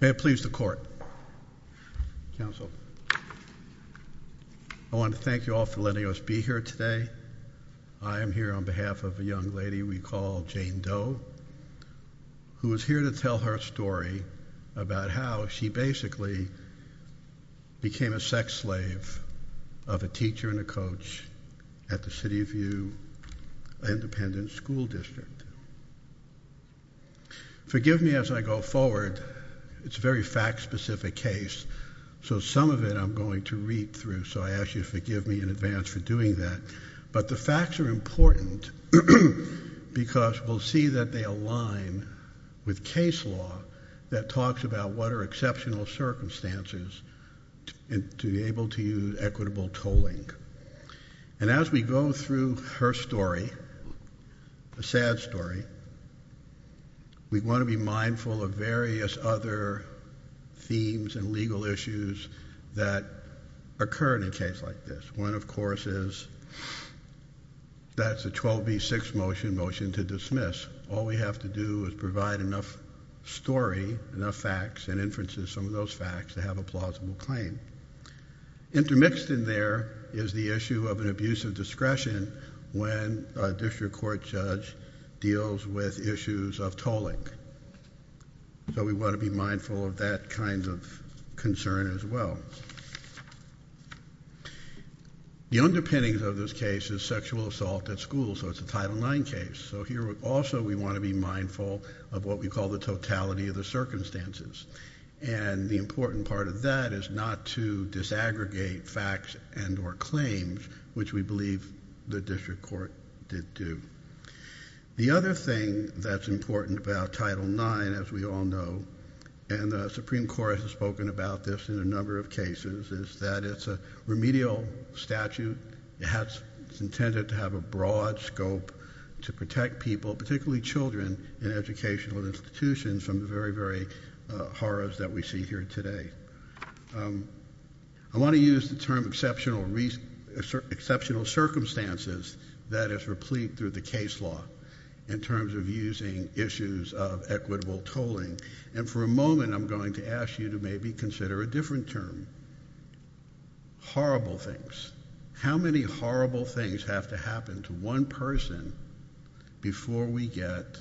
May it please the Court, Counsel. I want to thank you all for letting us be here today. I am here on behalf of a young lady we call Jane Doe, who is here to tell her story about how she basically became a sex slave of a teacher and a coach at the City View Independent School District. Forgive me as I go forward, it's a very fact-specific case, so some of it I'm going to read through, so I ask you to forgive me in advance for doing that, but the facts are important because we'll see that they align with case law that talks about what are exceptional circumstances to be able to use equitable tolling. And as we go through her story, a sad story, we want to be mindful of various other themes and legal issues that occur in a case like this. One, of course, is that it's a 12 v. 6 motion to dismiss. All we have to do is provide enough story, enough facts, and inferences from those facts to have a plausible claim. Intermixed in there is the issue of an abuse of discretion when a district court judge deals with issues of tolling. So we want to be mindful of that kind of concern as well. The underpinnings of this case is sexual assault at school, so it's a Title IX case, so here also we want to be mindful of what we call the totality of the circumstances, and the important part of that is not to disaggregate facts and or claims, which we believe the district court did do. The other thing that's important about Title IX, as we all know, and the Supreme Court has spoken about this in a number of cases, is that it's a remedial statute. It's intended to have a broad scope to protect people, particularly children, in educational institutions from the very, very horrors that we see here today. I want to use the term exceptional circumstances that is replete through the case law in terms of using issues of equitable tolling, and for a moment I'm going to ask you to maybe consider a different term. Horrible things. How many horrible things have to happen to one person before we get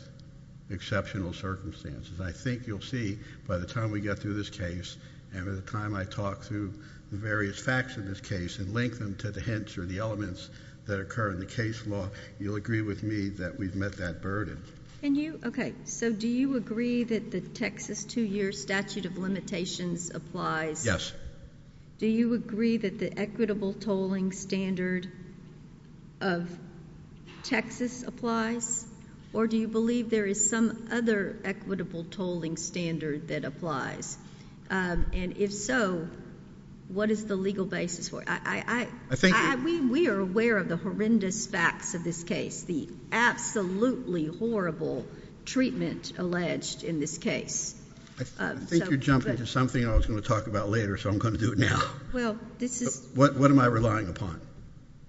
exceptional circumstances? I think you'll see by the time we get through this case and by the time I talk through the various facts of this case and link them to the hints or the elements that occur in the case law, you'll agree with me that we've met that burden. Can you? Okay. So do you agree that the Texas two-year statute of limitations applies? Yes. Do you agree that the equitable tolling standard of Texas applies, or do you believe there is some other equitable tolling standard that applies? And if so, what is the legal basis for it? I think... I think you're jumping to something I was going to talk about later, so I'm going to do it now. Well, this is... What am I relying upon?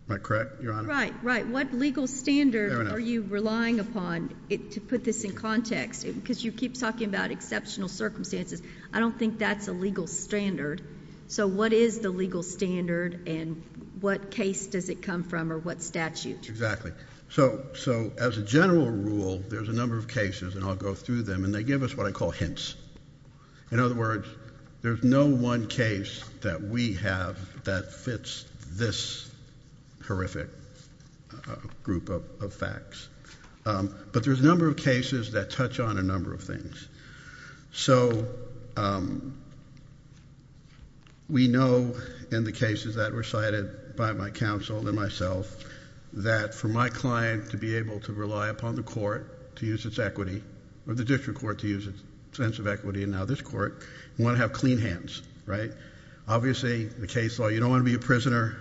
Am I correct, Your Honor? Right. What legal standard are you relying upon to put this in context? Because you keep talking about exceptional circumstances. I don't think that's a legal standard. So what is the legal standard, and what case does it come from, or what statute? Exactly. So as a general rule, there's a number of cases, and I'll go through them, and they give us what I call hints. In other words, there's no one case that we have that fits this horrific group of facts. But there's a number of cases that touch on a number of things. So we know in the cases that were cited by my counsel and myself that for my client to be able to rely upon the court to use its equity, or the district court to use its sense of equity, and now this court, you want to have clean hands, right? Obviously the case law, you don't want to be a prisoner.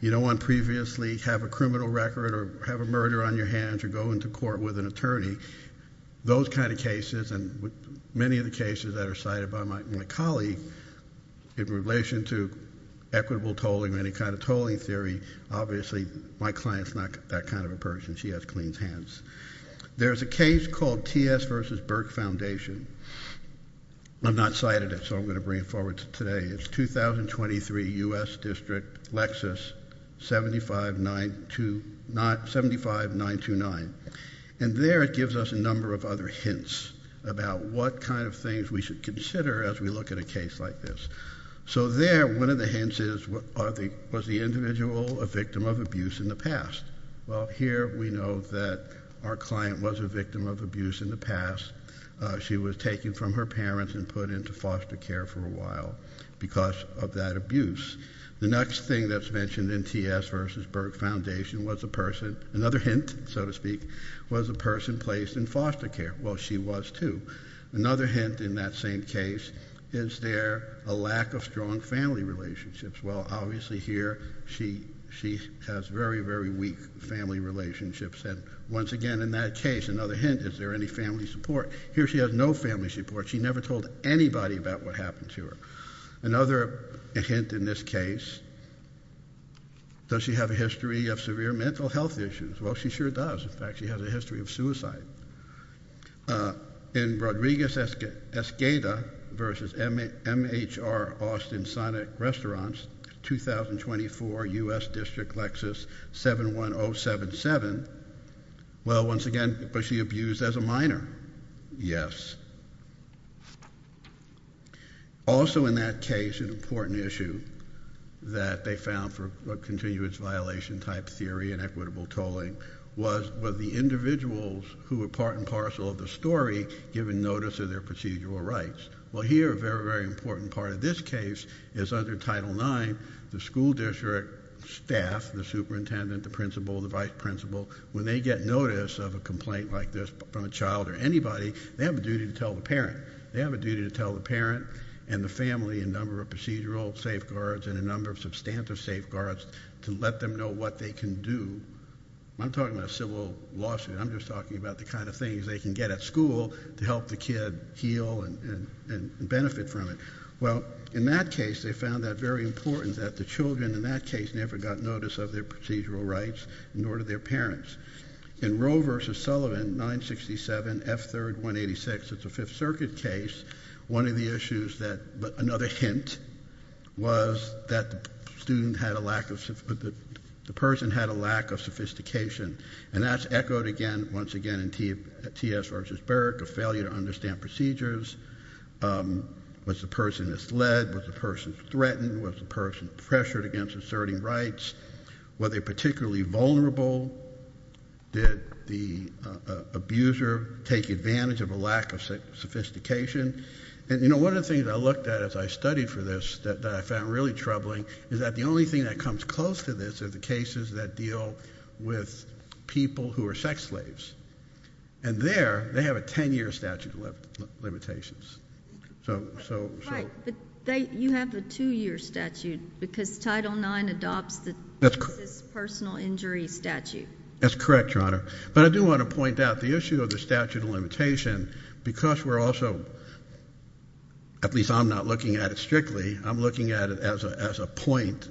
You don't want to previously have a criminal record or have a murder on your hands or go into court with an attorney. Those kind of cases, and many of the cases that are cited by my colleague in relation to equitable tolling or any kind of tolling theory, obviously my client's not that kind of a person. She has clean hands. There's a case called T.S. v. Burke Foundation. I'm not cited it, so I'm going to bring it forward today. It's 2023, U.S. District, Lexis, 75929. And there it gives us a number of other hints about what kind of things we should consider as we look at a case like this. So there, one of the hints is, was the individual a victim of abuse in the past? Well, here we know that our client was a victim of abuse in the past. She was taken from her parents and put into foster care for a while because of that abuse. The next thing that's mentioned in T.S. v. Burke Foundation was a person, another hint, so to speak, was a person placed in foster care. Well, she was too. Another hint in that same case, is there a lack of strong family relationships? Well, obviously here she has very, very weak family relationships. And once again in that case, another hint, is there any family support? Here she has no family support. She never told anybody about what happened to her. Another hint in this case, does she have a history of severe mental health issues? Well, she sure does. In fact, she has a history of suicide. In Rodriguez-Escada v. MHR Austin Sonic Restaurants, 2024, U.S. District, Lexus, 71077, well, once again, was she abused as a minor? Yes. Also in that case, an important issue that they found for continuous violation type theory and equitable tolling was the individuals who were part and parcel of the story given notice of their procedural rights. Well, here a very, very important part of this case is under Title IX, the school district staff, the superintendent, the principal, the vice principal, when they get notice of a complaint like this from a child or anybody, they have a duty to tell the parent. They have a duty to tell the parent and the family a number of procedural safeguards and a number of substantive safeguards to let them know what they can do. I'm talking about a civil lawsuit. I'm just talking about the kind of things they can get at school to help the kid heal and benefit from it. Well, in that case, they found that very important that the children in that case never got notice of their procedural rights, nor did their parents. In Roe v. Sullivan, 967, F. 3rd, 186, it's a Fifth Circuit case. One of the issues that, another hint, was that the student had a lack of, the person had a lack of sophistication. And that's echoed again, once again, in T.S. v. Burke, a failure to understand procedures. Was the person misled? Was the person threatened? Was the person pressured against asserting rights? Were they take advantage of a lack of sophistication? And, you know, one of the things I looked at as I studied for this that I found really troubling is that the only thing that comes close to this are the cases that deal with people who are sex slaves. And there, they have a 10-year statute of limitations. So, so, so. Right, but they, you have the two-year statute because Title IX adopts the racist personal injury statute. That's correct, Your Honor. But I do want to point out the issue of the statute of limitation because we're also, at least I'm not looking at it strictly, I'm looking at it as a, as a point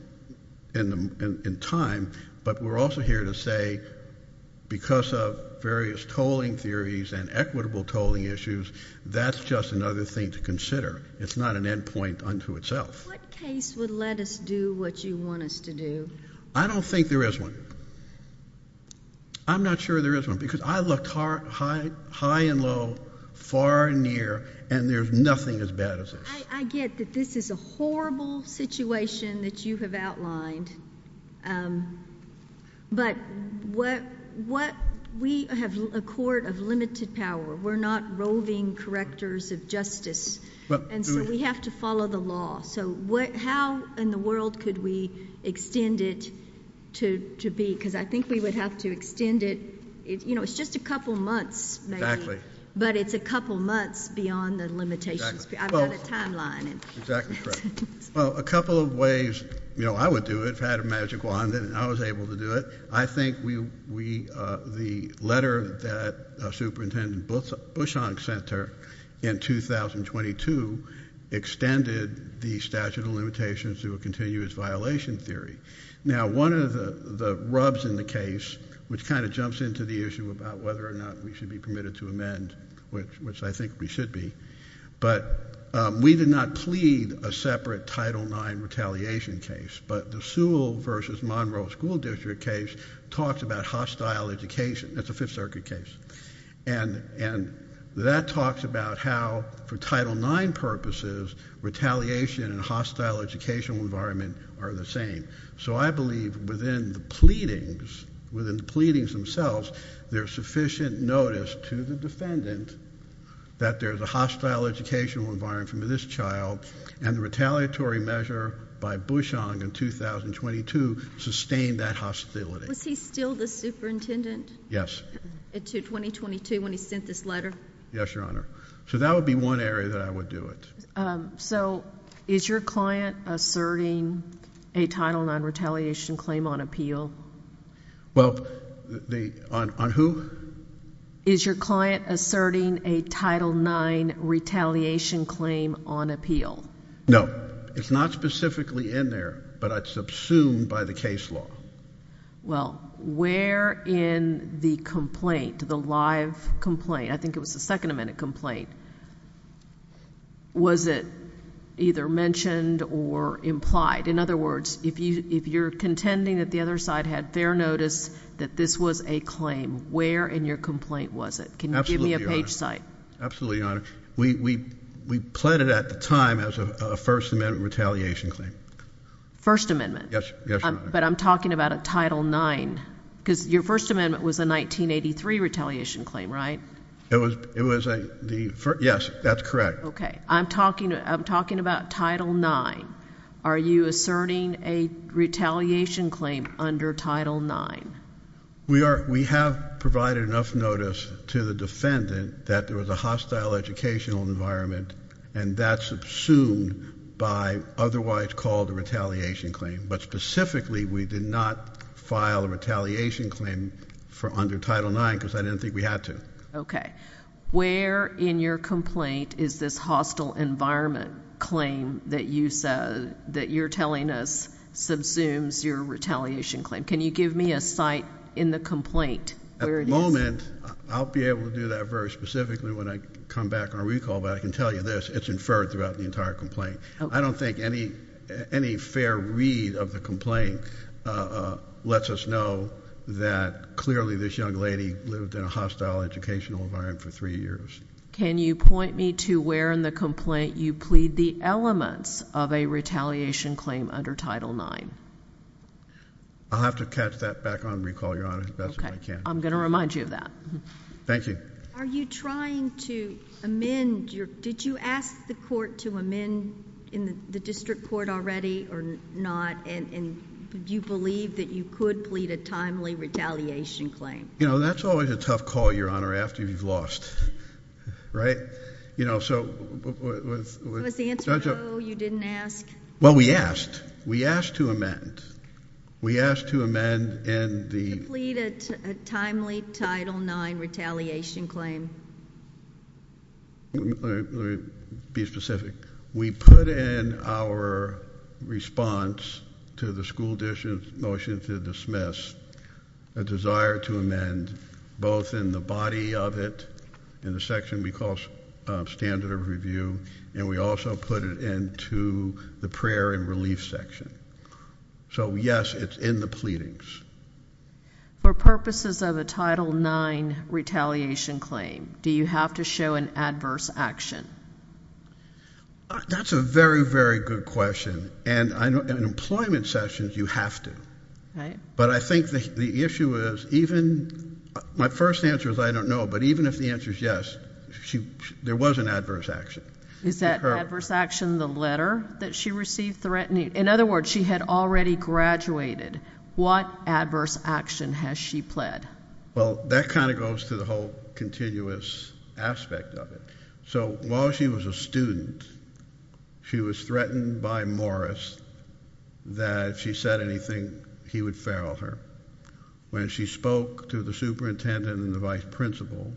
in the, in time, but we're also here to say because of various tolling theories and equitable tolling issues, that's just another thing to consider. It's not an end point unto itself. What case would let us do what you want us to do? I don't think there is one. I'm not sure there is one because I looked high, high, high and low, far and near, and there's nothing as bad as this. I get that this is a horrible situation that you have outlined, but what, what, we have a court of limited power. We're not roving correctors of justice. And so we have to follow the law. So what, how in the world could we extend it to, to be? Because I think we would have to extend it, you know, it's just a couple months, but it's a couple months beyond the limitations. I've got a timeline. Well, a couple of ways, you know, I would do it if I had a magic wand and I was able to do it. I think we, we, uh, the letter that, uh, Superintendent Bushong sent her in 2022 extended the statute of limitations to a continuous violation theory. Now, one of the rubs in the case, which kind of jumps into the issue about whether or not we should be permitted to amend, which, which I think we should be, but, um, we did not plead a separate title nine retaliation case, but the Sewell versus Monroe school district case talks about hostile education. That's a fifth circuit case. And, and that talks about how for title nine purposes, retaliation and hostile educational environment are the same. So I believe within the pleadings, within the pleadings themselves, there's sufficient notice to the superintendent that there's a hostile educational environment from this child and the retaliatory measure by Bushong in 2022 sustained that hostility. Was he still the superintendent? Yes. To 2022 when he sent this letter? Yes, Your Honor. So that would be one area that I would do it. So is your client asserting a title nine retaliation claim on appeal? Well, the, on, on who? Is your client asserting a title nine retaliation claim on appeal? No, it's not specifically in there, but I'd subsume by the case law. Well, where in the complaint, the live complaint, I think it was the second amendment complaint, was it either mentioned or implied? In other words, if you, if you're contending that the other side had fair notice that this was a claim, where in your complaint was it? Can you give me a page site? Absolutely, Your Honor. We, we, we pled it at the time as a first amendment retaliation claim. First amendment. Yes. But I'm talking about a title nine because your first amendment was a 1983 retaliation claim, right? It was, it was the first. Yes, that's correct. Okay. I'm talking, I'm talking about title nine. Are you asserting a retaliation claim under title nine? We are, we have provided enough notice to the defendant that there was a hostile educational environment and that's subsumed by otherwise called a retaliation claim. But specifically, we did not file a retaliation claim for under title nine because I didn't think we had to. Okay. Where in your complaint is this hostile environment claim that you said, that you're telling us subsumes your retaliation claim? Can you give me a site in the complaint where it is? At the moment, I'll be able to do that very specifically when I come back on a recall, but I can tell you this, it's inferred throughout the entire complaint. I don't think any, any fair read of the complaint, uh, uh, clearly this young lady lived in a hostile educational environment for three years. Can you point me to where in the complaint you plead the elements of a retaliation claim under title nine? I'll have to catch that back on recall, Your Honor, if that's what I can. Okay. I'm going to remind you of that. Thank you. Are you trying to amend your, did you ask the court to amend in the district court already or not? And do you believe that you could plead a timely retaliation claim? You know, that's always a tough call, Your Honor, after you've lost, right? You know, so with, with, with. Was the answer no, you didn't ask? Well, we asked, we asked to amend. We asked to amend in the. To plead a timely title nine retaliation claim. Let me be specific. We put in our response to the school district's motion to dismiss a desire to amend both in the body of it, in the section we call standard of review, and we also put it into the prayer and relief section. So yes, it's in the pleadings. For purposes of a title nine retaliation claim, do you have to show an adverse action? That's a very, very good question. And in employment sessions, you have to. Right. But I think the issue is even, my first answer is I don't know, but even if the answer is yes, she, there was an adverse action. Is that adverse action the letter that she received threatening, in other words, she had already graduated. What adverse action has she pled? Well, that kind of goes to the whole continuous aspect of it. So while she was a student, she was threatened by Morris that if she said anything, he would feral her. When she spoke to the superintendent and the vice principal,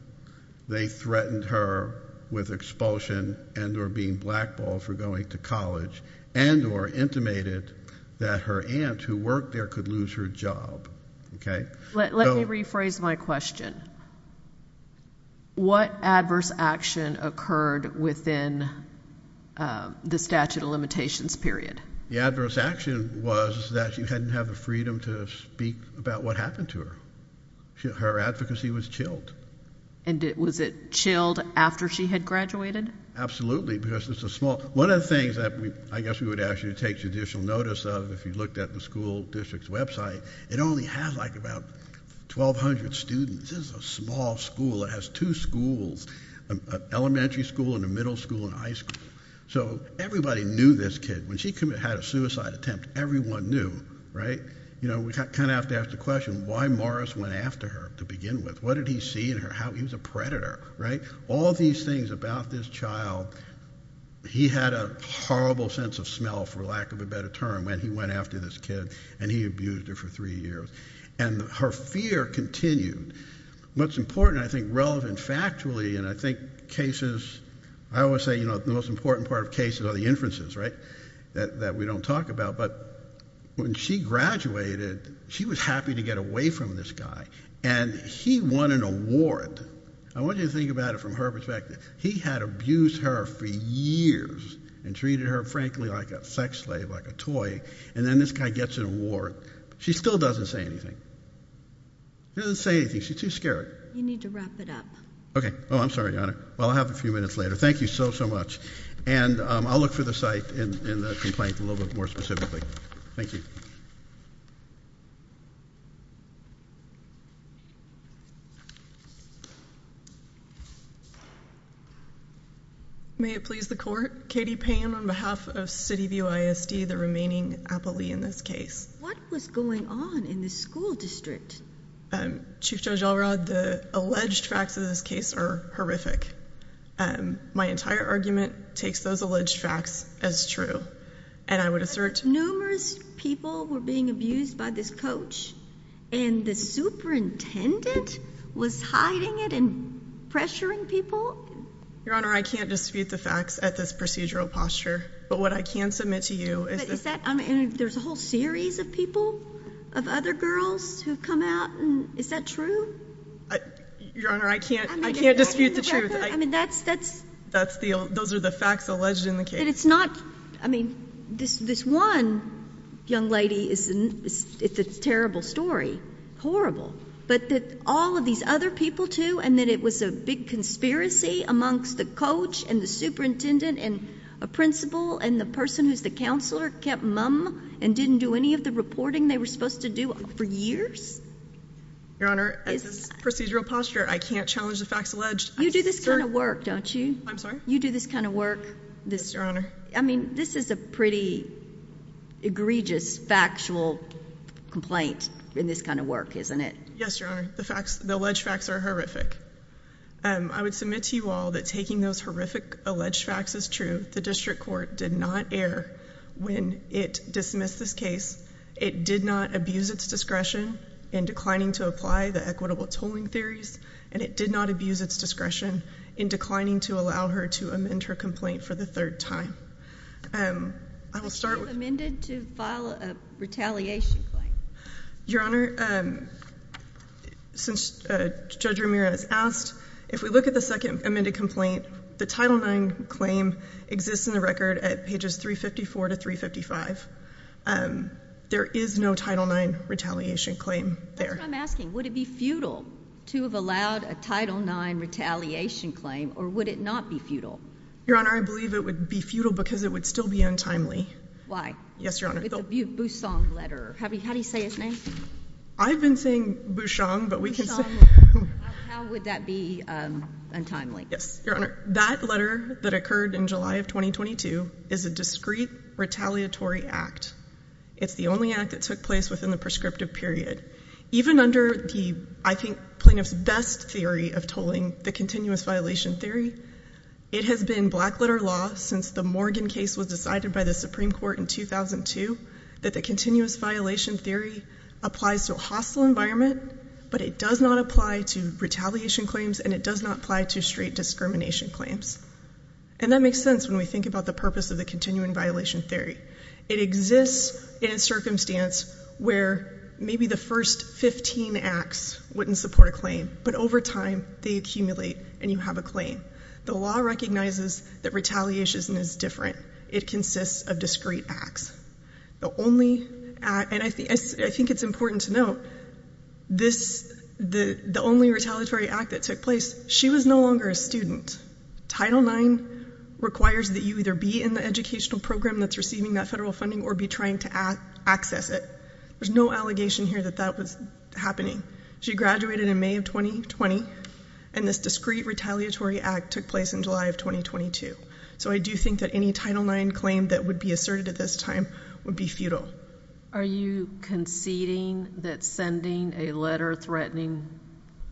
they threatened her with expulsion and or being blackballed for going to college and or intimated that her aunt who worked there could lose her job. Let me rephrase my question. What adverse action occurred within the statute of limitations period? The adverse action was that she didn't have the freedom to speak about what happened to her. Her advocacy was chilled. And was it chilled after she had graduated? Absolutely. Because it's a small, one of the things that I guess we would ask you to take judicial notice of if you looked at the school district's website, it only has like about 1,200 students. This is a small school. It has two schools, an elementary school and a middle school and a high school. So everybody knew this kid. When she had a suicide attempt, everyone knew, right? You know, we kind of have to ask the question, why Morris went after her to begin with? What did he see in her? He was a predator, right? All these things about this child, he had a horrible sense of smell for lack of a better term when he went after this kid and he abused her for three years. And her fear continued. What's important, I think relevant factually, and I think cases, I always say, you know, the most important part of cases are the inferences, right? That we don't talk about. But when she graduated, she was happy to get away from this guy. And he won an award. I want you to think about it from her perspective. He had abused her for years and treated her, frankly, like a sex slave, like a toy. And then this guy gets an award. She still doesn't say anything. She doesn't say anything. She's too scared. You need to wrap it up. Okay. Oh, I'm sorry, Your Honor. Well, I'll have it a few minutes later. Thank you so, so much. And I'll look for the site in the complaint a little bit more specifically. Thank you. May it please the court. Katie Payne on behalf of CityView ISD, the remaining appellee in this case. What was going on in the school district? Chief Judge Alrod, the alleged facts of this case are horrific. My entire argument takes those alleged facts as true. And I would assert Numerous people were being abused by this coach. And the superintendent was hiding it and pressuring people? Your Honor, I can't dispute the facts at this procedural posture. But what I can submit to you is that Is that, I mean, there's a whole series of people, of other girls who come out. Is that true? Your Honor, I can't dispute the truth. I mean, that's Those are the facts alleged in the case. I mean, this one young lady, it's a terrible story. But all of these other people, too, and that it was a big conspiracy Amongst the coach and the superintendent and a principal And the person who's the counselor kept mum and didn't do any of the reporting They were supposed to do for years? Your Honor, at this procedural posture, I can't challenge the facts alleged. You do this kind of work, don't you? I'm sorry? You do this kind of work. Yes, Your Honor. I mean, this is a pretty egregious factual complaint in this kind of work, isn't it? Yes, Your Honor. The alleged facts are horrific. I would submit to you all that taking those horrific alleged facts is true. The district court did not err when it dismissed this case. It did not abuse its discretion in declining to apply the equitable tolling theories. And it did not abuse its discretion in declining to allow her to amend her complaint for the third time. I will start with... Amended to file a retaliation claim? Your Honor, since Judge Ramirez asked, if we look at the second amended complaint, The Title IX claim exists in the record at pages 354 to 355. There is no Title IX retaliation claim there. I'm asking, would it be futile to have allowed a Title IX retaliation claim, or would it not be futile? Your Honor, I believe it would be futile because it would still be untimely. Yes, Your Honor. With the Busong letter. How do you say his name? I've been saying Busong, but we can say... How would that be untimely? Yes, Your Honor. That letter that occurred in July of 2022 is a discrete retaliatory act. It's the only act that took place within the prescriptive period. Even under the, I think, plaintiff's best theory of tolling, the continuous violation theory, it has been blackletter law since the Morgan case was decided by the Supreme Court in 2002, that the continuous violation theory applies to a hostile environment, but it does not apply to retaliation claims, and it does not apply to straight discrimination claims. And that makes sense when we think about the purpose of the continuing violation theory. It exists in a circumstance where maybe the first 15 acts wouldn't support a claim, but over time, they accumulate, and you have a claim. The law recognizes that retaliation is different. It consists of discrete acts. The only act, and I think it's important to note, the only retaliatory act that took place, she was no longer a student. Title IX requires that you either be in the educational program that's receiving that federal funding or be trying to access it. There's no allegation here that that was happening. She graduated in May of 2020, and this discrete retaliatory act took place in July of 2022. So I do think that any Title IX claim that would be asserted at this time would be futile. Are you conceding that sending a letter threatening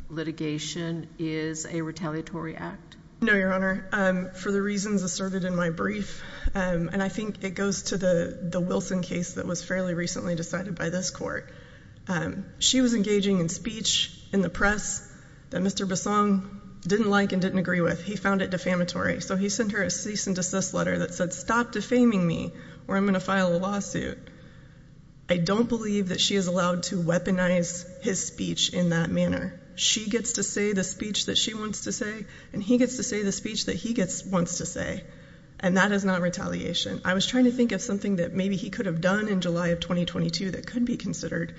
litigation is a retaliatory act? No, Your Honor. For the reasons asserted in my brief, and I think it goes to the Wilson case that was fairly recently decided by this court, she was engaging in speech in the press that Mr. Bassong didn't like and didn't agree with. He found it defamatory. So he sent her a cease and desist letter that said, stop defaming me or I'm going to file a lawsuit. I don't believe that she is allowed to weaponize his speech in that manner. She gets to say the speech that she wants to say, and he gets to say the speech that he wants to say, and that is not retaliation. I was trying to think of something that maybe he could have done in July of 2022 that could be considered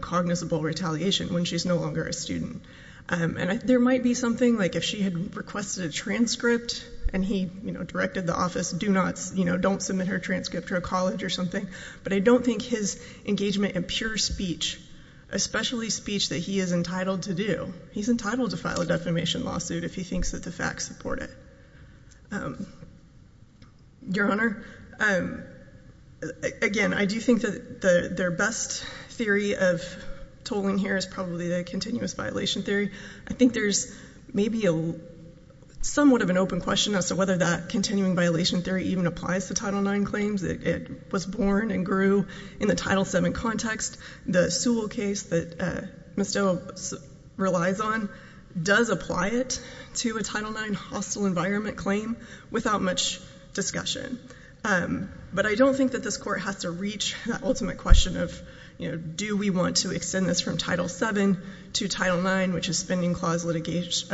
cognizable retaliation when she's no longer a student. And there might be something like if she had requested a transcript and he directed the office, don't submit her transcript to a college or something. But I don't think his engagement in pure speech, especially speech that he is entitled to do, he's entitled to file a defamation lawsuit if he thinks that the facts support it. Your Honor, again, I do think that their best theory of tolling here is probably the continuous violation theory. I think there's maybe somewhat of an open question as to whether that continuing violation theory even applies to Title IX claims. It was born and grew in the Title VII context. The Sewell case that Ms. Della relies on does apply it to a Title IX hostile environment claim without much discussion. But I don't think that this Court has to reach that ultimate question of do we want to extend this from Title VII to Title IX, which is spending clause litigation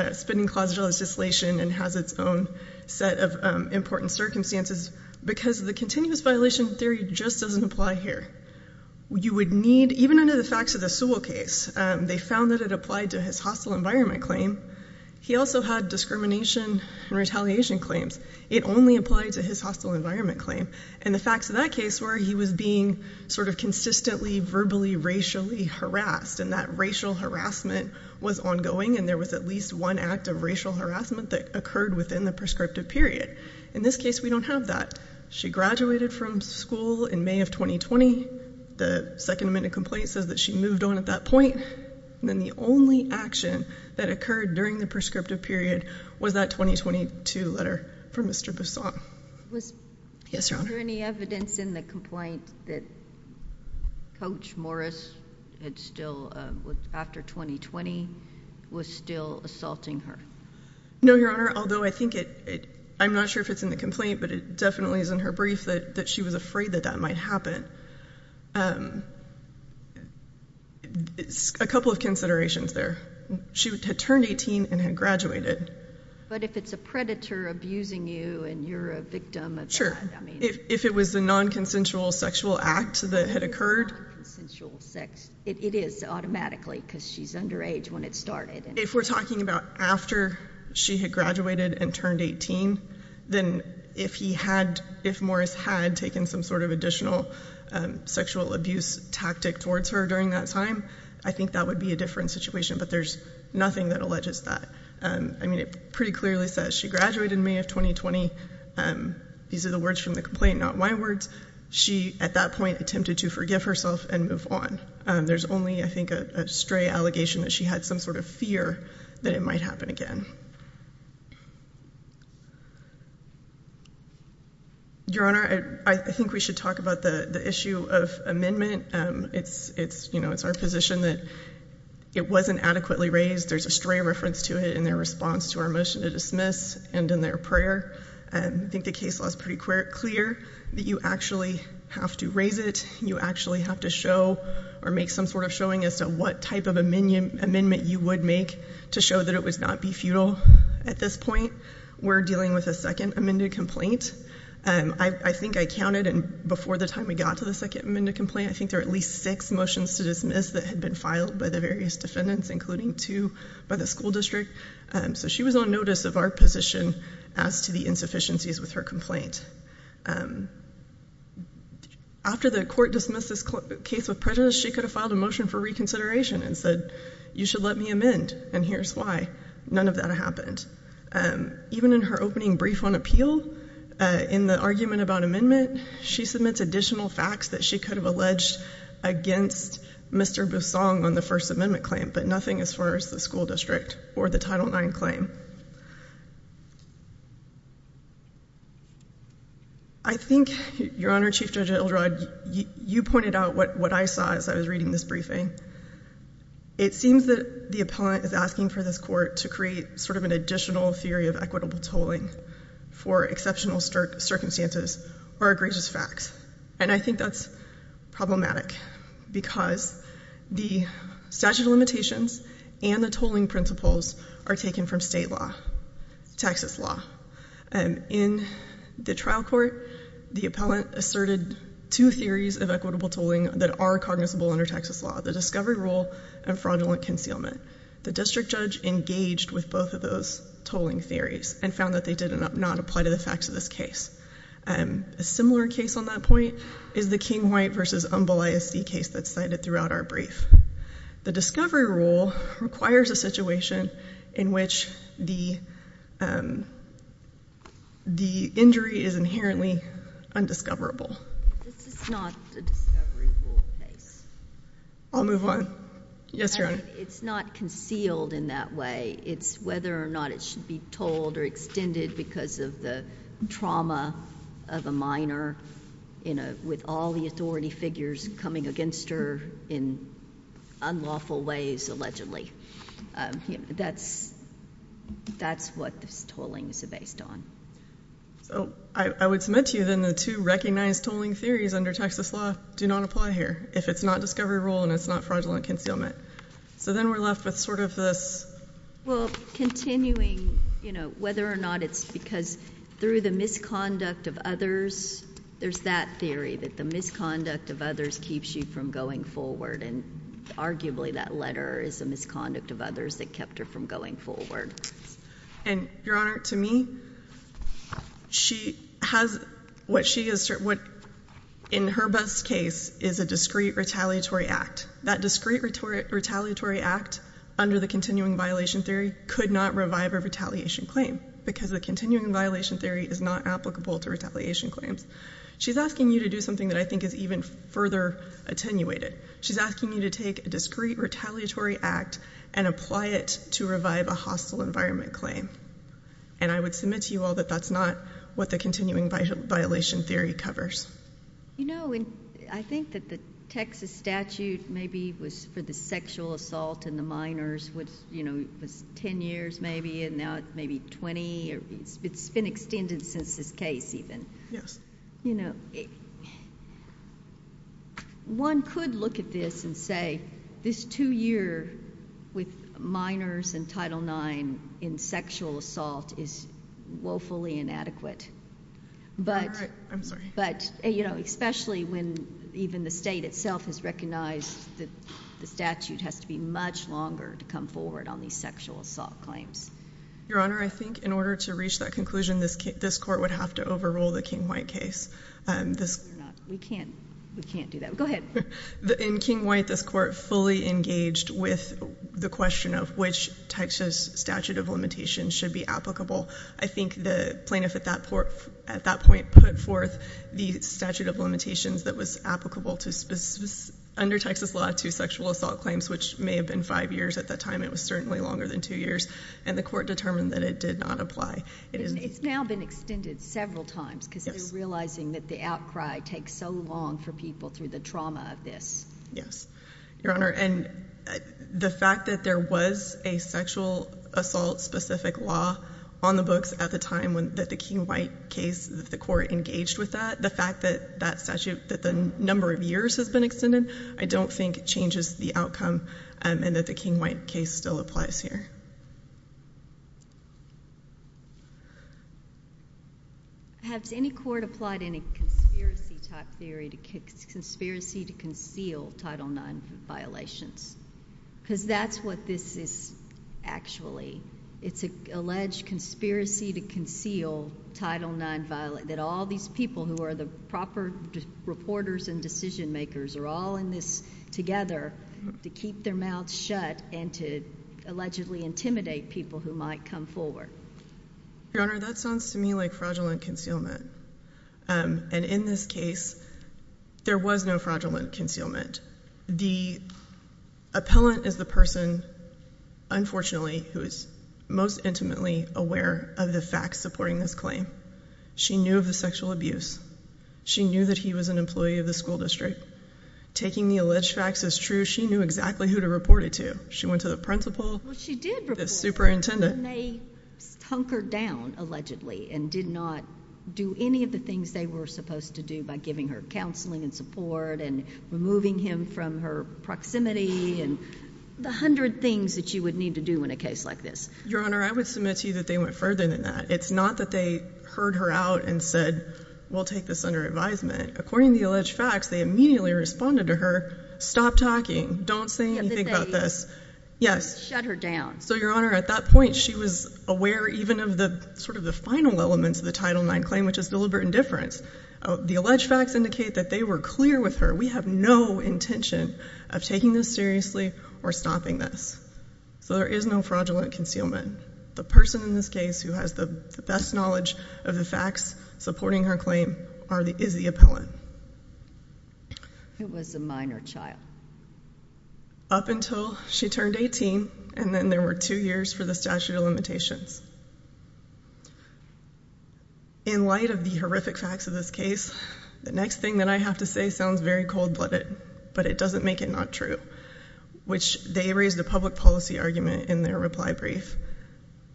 and has its own set of important circumstances because the continuous violation theory just doesn't apply here. You would need, even under the facts of the Sewell case, they found that it applied to his hostile environment claim. He also had discrimination and retaliation claims. It only applied to his hostile environment claim. And the facts of that case were he was being sort of consistently verbally, racially harassed and that racial harassment was ongoing and there was at least one act of racial harassment that occurred within the prescriptive period. In this case, we don't have that. She graduated from school in May of 2020. The Second Amendment complaint says that she moved on at that point. And then the only action that occurred during the prescriptive period was that 2022 letter from Mr. Boussaint. Yes, Your Honor. Was there any evidence in the complaint that Coach Morris had still, after 2020, was still assaulting her? No, Your Honor, although I think it, I'm not sure if it's in the complaint, but it definitely is in her brief that she was afraid that that might happen. A couple of considerations there. She had turned 18 and had graduated. But if it's a predator abusing you and you're a victim of that. If it was a non-consensual sexual act that had occurred. It is automatically because she's underage when it started. If we're talking about after she had graduated and turned 18, then if he had, if Morris had taken some sort of additional sexual abuse tactic towards her during that time, I think that would be a different situation. But there's nothing that alleges that. I mean, it pretty clearly says she graduated in May of 2020. These are the words from the complaint, not my words. She, at that point, attempted to forgive herself and move on. There's only, I think, a stray allegation that she had some sort of fear that it might happen again. Your Honor, I think we should talk about the issue of amendment. It's our position that it wasn't adequately raised. There's a stray reference to it in their response to our motion to dismiss and in their prayer. I think the case law is pretty clear that you actually have to raise it. You actually have to show or make some sort of showing as to what type of amendment you would make to show that it would not be futile at this point. We're dealing with a second amended complaint. I think I counted, and before the time we got to the second amended complaint, I think there were at least six motions to dismiss that had been filed by the various defendants, including two by the school district. So she was on notice of our position as to the insufficiencies with her complaint. After the court dismissed this case with prejudice, she could have filed a motion for reconsideration and said, you should let me amend, and here's why. None of that happened. Even in her opening brief on appeal, in the argument about amendment, she submits additional facts that she could have alleged against Mr. Busong on the First Amendment claim, but nothing as far as the school district or the Title IX claim. I think, Your Honor, Chief Judge Ildred, you pointed out what I saw as I was reading this briefing. It seems that the appellant is asking for this court to create sort of an additional theory of equitable tolling for exceptional circumstances or egregious facts, and I think that's problematic because the statute of limitations and the tolling principles are taken from state law, Texas law. In the trial court, the appellant asserted two theories of equitable tolling that are cognizable under Texas law, the discovery rule and fraudulent concealment. The district judge engaged with both of those tolling theories and found that they did not apply to the facts of this case. A similar case on that point is the King-White v. Umbel ISD case that's cited throughout our brief. The discovery rule requires a situation in which the injury is inherently undiscoverable. This is not the discovery rule case. I'll move on. Yes, Your Honor. It's not concealed in that way. It's whether or not it should be tolled or extended because of the trauma of a minor with all the authority figures coming against her in unlawful ways, allegedly. That's what this tolling is based on. I would submit to you then the two recognized tolling theories under Texas law do not apply here if it's not discovery rule and it's not fraudulent concealment. Then we're left with sort of this. Continuing whether or not it's because through the misconduct of others, there's that theory that the misconduct of others keeps you from going forward. Arguably, that letter is a misconduct of others that kept her from going forward. Your Honor, to me, she has what in her best case is a discrete retaliatory act. That discrete retaliatory act under the continuing violation theory could not revive a retaliation claim because the continuing violation theory is not applicable to retaliation claims. She's asking you to do something that I think is even further attenuated. She's asking you to take a discrete retaliatory act and apply it to revive a hostile environment claim. I would submit to you all that that's not what the continuing violation theory covers. You know, I think that the Texas statute maybe was for the sexual assault and the minors was 10 years maybe and now it's maybe 20. It's been extended since this case even. Yes. You know, one could look at this and say this two year with minors in Title IX in sexual assault is woefully inadequate. But, you know, especially when even the state itself has recognized that the statute has to be much longer to come forward on these sexual assault claims. Your Honor, I think in order to reach that conclusion, this court would have to overrule the King-White case. We can't do that. Go ahead. In King-White, this court fully engaged with the question of which Texas statute of limitations should be applicable. I think the plaintiff at that point put forth the statute of limitations that was applicable under Texas law to sexual assault claims which may have been five years at that time. It was certainly longer than two years and the court determined that it did not apply. It's now been extended several times because they're realizing that the outcry takes so long for people through the trauma of this. Yes. Your Honor, and the fact that there was a sexual assault specific law on the books at the time that the King-White case, the court engaged with that, the fact that that statute, that the number of years has been extended, I don't think changes the outcome and that the King-White case still applies here. Has any court applied any conspiracy type theory to conceal Title IX violations? Because that's what this is actually. It's an alleged conspiracy to conceal Title IX, that all these people who are the proper reporters and decision makers are all in this together to keep their mouths shut and to allegedly intimidate people who might come forward. Your Honor, that sounds to me like fraudulent concealment. And in this case, there was no fraudulent concealment. The appellant is the person, unfortunately, who is most intimately aware of the facts supporting this claim. She knew of the sexual abuse. She knew that he was an employee of the school district. Taking the alleged facts as true, she knew exactly who to report it to. She went to the principal. Well, she did report it. The superintendent. They hunkered down, allegedly, and did not do any of the things they were supposed to do by giving her counseling and support and removing him from her proximity and the hundred things that you would need to do in a case like this. Your Honor, I would submit to you that they went further than that. It's not that they heard her out and said, we'll take this under advisement. According to the alleged facts, they immediately responded to her, stop talking. Don't say anything about this. Yes. Shut her down. So Your Honor, at that point, she was aware even of the final elements of the Title IX claim, which is deliberate indifference. The alleged facts indicate that they were clear with her. We have no intention of taking this seriously or stopping this. So there is no fraudulent concealment. The person in this case who has the best knowledge of the facts supporting her claim is the appellant. It was a minor child. Up until she turned 18, and then there were two years for the statute of limitations. In light of the horrific facts of this case, the next thing that I have to say sounds very cold-blooded, but it doesn't make it not true, which they raised a public policy argument in their reply brief.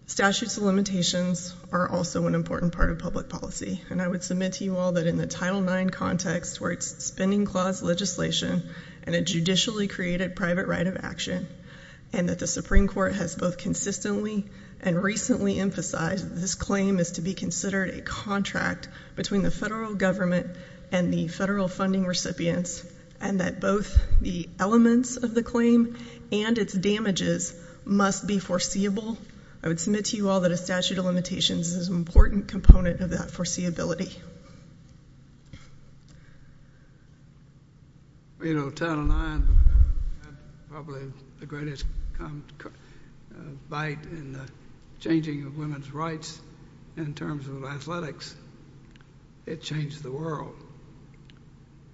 Statutes of limitations are also an important part of public policy, and I would submit to you all that in the Title IX context, where it's spending clause legislation and a judicially created private right of action, and that the Supreme Court has both consistently and recently emphasized that this claim is to be considered a contract between the federal government and the federal funding recipients, and that both the elements of the claim and its damages must be foreseeable, I would submit to you all that a statute of limitations is an important component of that foreseeability. Well, you know, Title IX had probably the greatest bite in the changing of women's rights in terms of athletics. It changed the world.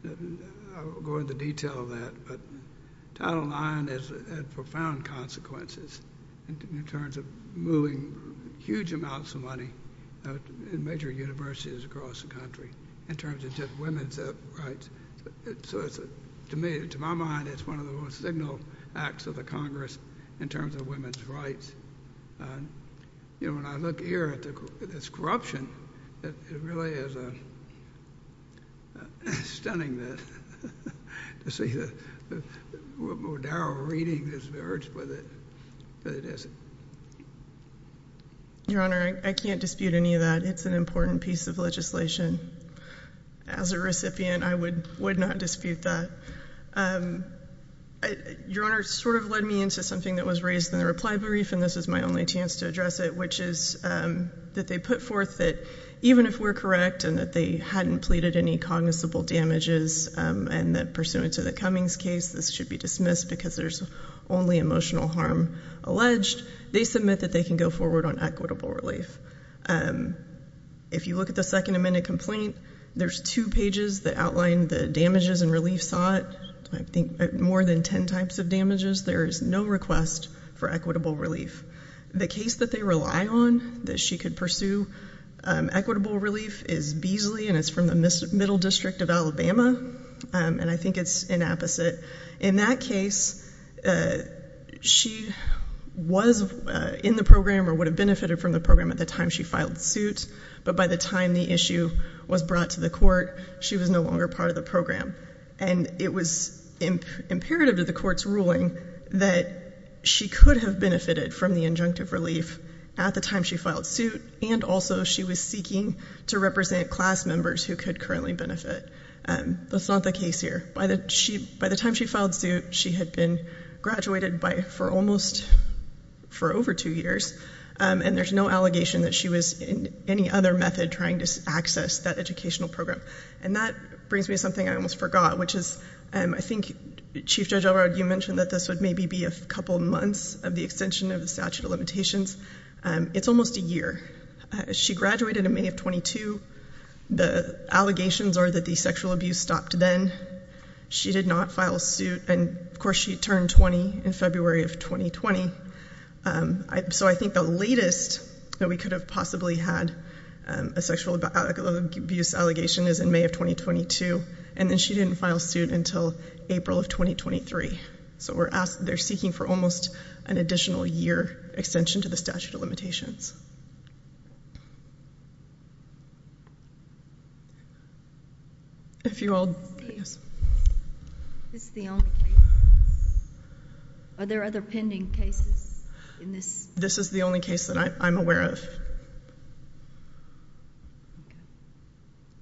I won't go into detail of that, but Title IX has had profound consequences in terms of moving huge amounts of money in major universities across the country in terms of just women's rights. So to me, to my mind, it's one of the most signaled acts of the Congress in terms of women's rights. You know, when I look here at this corruption, it really is a... stunning that... to see the more narrow reading that it is. Your Honor, I can't dispute any of that. It's an important piece of legislation. As a recipient, I would not dispute that. Your Honor, it sort of led me into something that was raised in the reply brief, and this is my only chance to address it, which is that they put forth that even if we're correct and that they hadn't pleaded any cognizable damages and that pursuant to the Cummings case, this should be dismissed because there's only emotional harm alleged, they submit that they can go forward on equitable relief. If you look at the second amended complaint, there's two pages that outline the damages and relief sought. I think more than ten types of damages. There is no request for equitable relief. The case that they rely on that she could pursue equitable relief is Beasley, and it's from the Middle District of Alabama, and I think it's an apposite. In that case, she was in the program or would have benefited from the program at the time she filed suit, but by the time the issue was brought to the court, she was no longer part of the program. And it was imperative to the court's ruling that she could have benefited from the injunctive relief at the time she filed suit, and also she was seeking to represent class members who could currently benefit. That's not the case here. By the time she filed suit, she had been graduated for over two years, and there's no allegation that she was in any other method trying to access that educational program. And that brings me to something I almost forgot, which is I think, Chief Judge Elrod, you mentioned that this would maybe be a couple months of the extension of the statute of limitations. It's almost a year. She graduated in May of 22. The allegations are that the sexual abuse stopped then. She did not file suit, and of course she turned 20 in February of 2020. So I think the latest that we could have possibly had a sexual abuse allegation is in May of 2022, and then she didn't file suit until April of 2023. So they're seeking for almost an additional year extension to the statute of limitations. If you all... Is this the only case? Are there other pending cases in this? This is the only case that I'm aware of.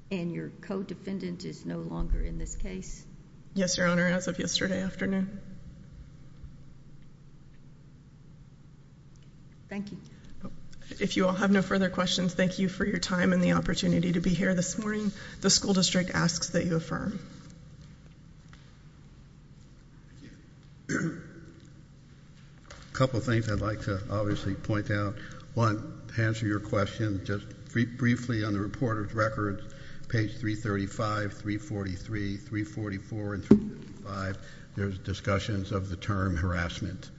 And your co-defendant is no longer in this case? Yes, Your Honor, as of yesterday afternoon. Thank you. If you all have no further questions, thank you for your time and the opportunity to be here this morning. The school district asks that you affirm. A couple things I'd like to obviously point out. One, to answer your question, just briefly on the reporter's records, page 335, 343, 344, and 335, there's discussions of the term harassment.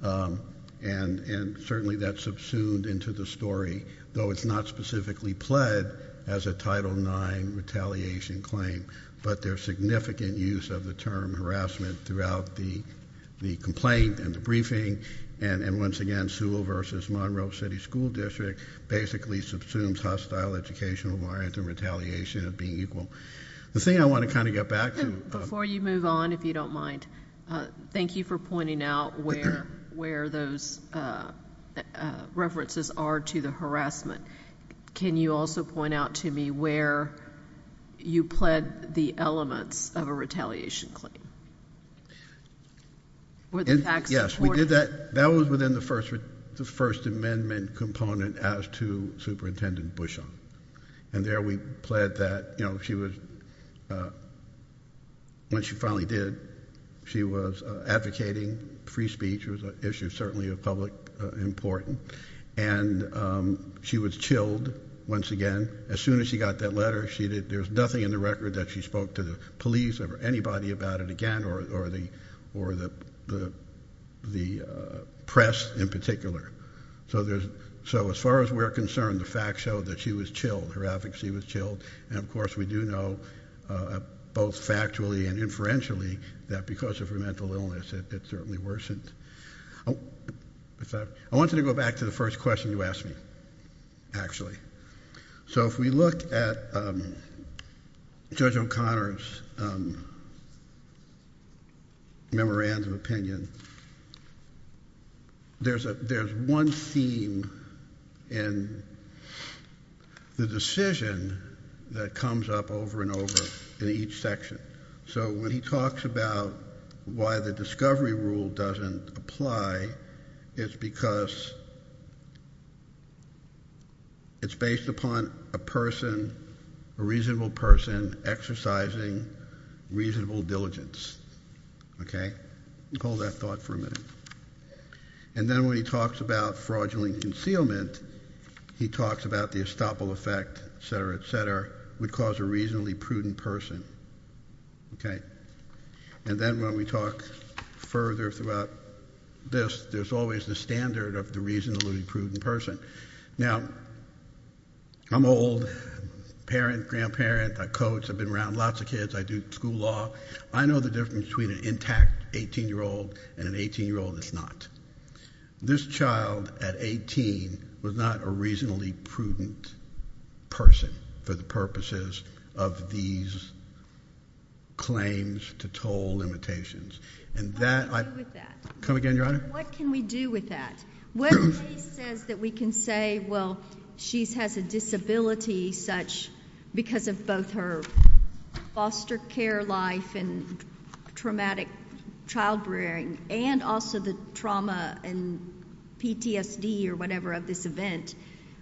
And certainly that's subsumed into the story, though it's not specifically pled as a Title IX retaliation claim. But there's significant use of the term harassment throughout the complaint and the briefing. And once again, Sewell v. Monroe City School District basically subsumes hostile educational orient and retaliation of being equal. The thing I want to kind of get back to... Before you move on, if you don't mind, thank you for pointing out where those references are to the harassment. Can you also point out to me where you pled the elements of a retaliation claim? Yes, we did that. That was within the First Amendment component as to Superintendent Bushong. And there we pled that, you know, she was... When she finally did, she was advocating free speech. It was an issue certainly of public importance. And she was chilled once again. As soon as she got that letter, there's nothing in the record that she spoke to the police or anybody about it again, or the press in particular. So as far as we're concerned, the facts show that she was chilled, her advocacy was chilled. And of course we do know, both factually and inferentially, that because of her mental illness, it certainly worsened. I wanted to go back to the first question you asked me, actually. So if we look at Judge O'Connor's... ..memorandum opinion... ..there's one theme in... ..the decision that comes up over and over in each section. So when he talks about why the discovery rule doesn't apply, it's because... ..it's based upon a person, a reasonable person exercising reasonable diligence. OK? Hold that thought for a minute. And then when he talks about fraudulent concealment, he talks about the estoppel effect, etc, etc, would cause a reasonably prudent person. OK? And then when we talk further throughout this, there's always the standard of the reasonably prudent person. Now, I'm old, parent, grandparent, I coach, I've been around lots of kids, I do school law. I know the difference between an intact 18-year-old and an 18-year-old that's not. This child at 18 was not a reasonably prudent person for the purposes of these claims to toll limitations. And that... What can we do with that? Come again, Your Honour? What can we do with that? What case says that we can say, well, she has a disability such... ..because of both her foster care life and traumatic child-rearing and also the trauma and PTSD or whatever of this event,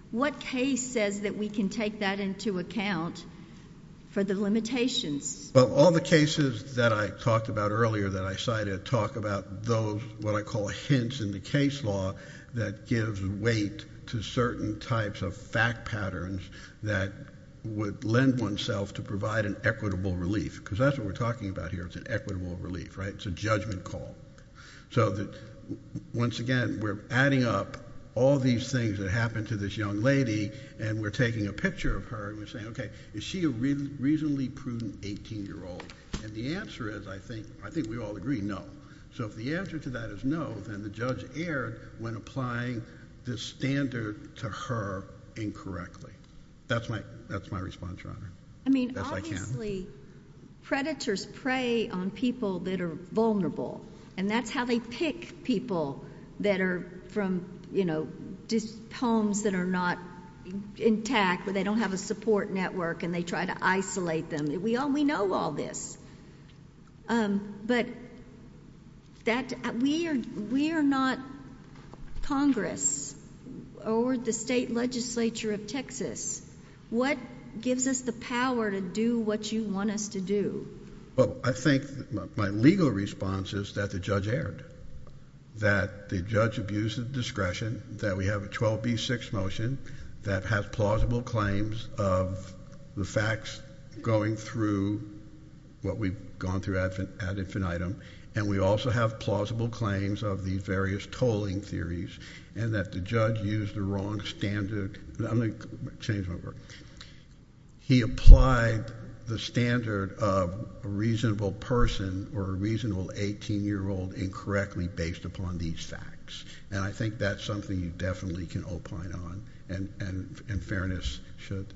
what case says that we can take that into account for the limitations? Well, all the cases that I talked about earlier, that I cited, talk about those, what I call hints in the case law that gives weight to certain types of fact patterns that would lend oneself to provide an equitable relief. Because that's what we're talking about here, it's an equitable relief, right? It's a judgment call. So that, once again, we're adding up all these things that happened to this young lady and we're taking a picture of her and we're saying, OK, is she a reasonably prudent 18-year-old? And the answer is, I think we all agree, no. So if the answer to that is no, then the judge erred when applying this standard to her incorrectly. That's my response, Your Honour. I mean, obviously, predators prey on people that are vulnerable and that's how they pick people that are from, you know, these homes that are not intact, where they don't have a support network and they try to isolate them. We know all this. But we are not Congress or the state legislature of Texas. What gives us the power to do what you want us to do? Well, I think my legal response is that the judge erred, that the judge abused his discretion, that we have a 12b-6 motion that has plausible claims of the facts going through what we've gone through ad infinitum, and we also have plausible claims of the various tolling theories and that the judge used the wrong standard. I'm going to change my word. He applied the standard of a reasonable person or a reasonable 18-year-old incorrectly based upon these facts, and I think that's something you definitely can opine on and fairness should.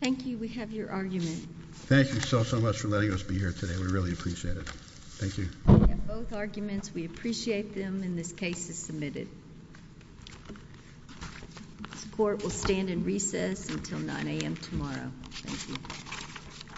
Thank you. We have your argument. Thank you so, so much for letting us be here today. We really appreciate it. Thank you. We have both arguments. We appreciate them, and this case is submitted. This court will stand in recess until 9 a.m. tomorrow. Thank you.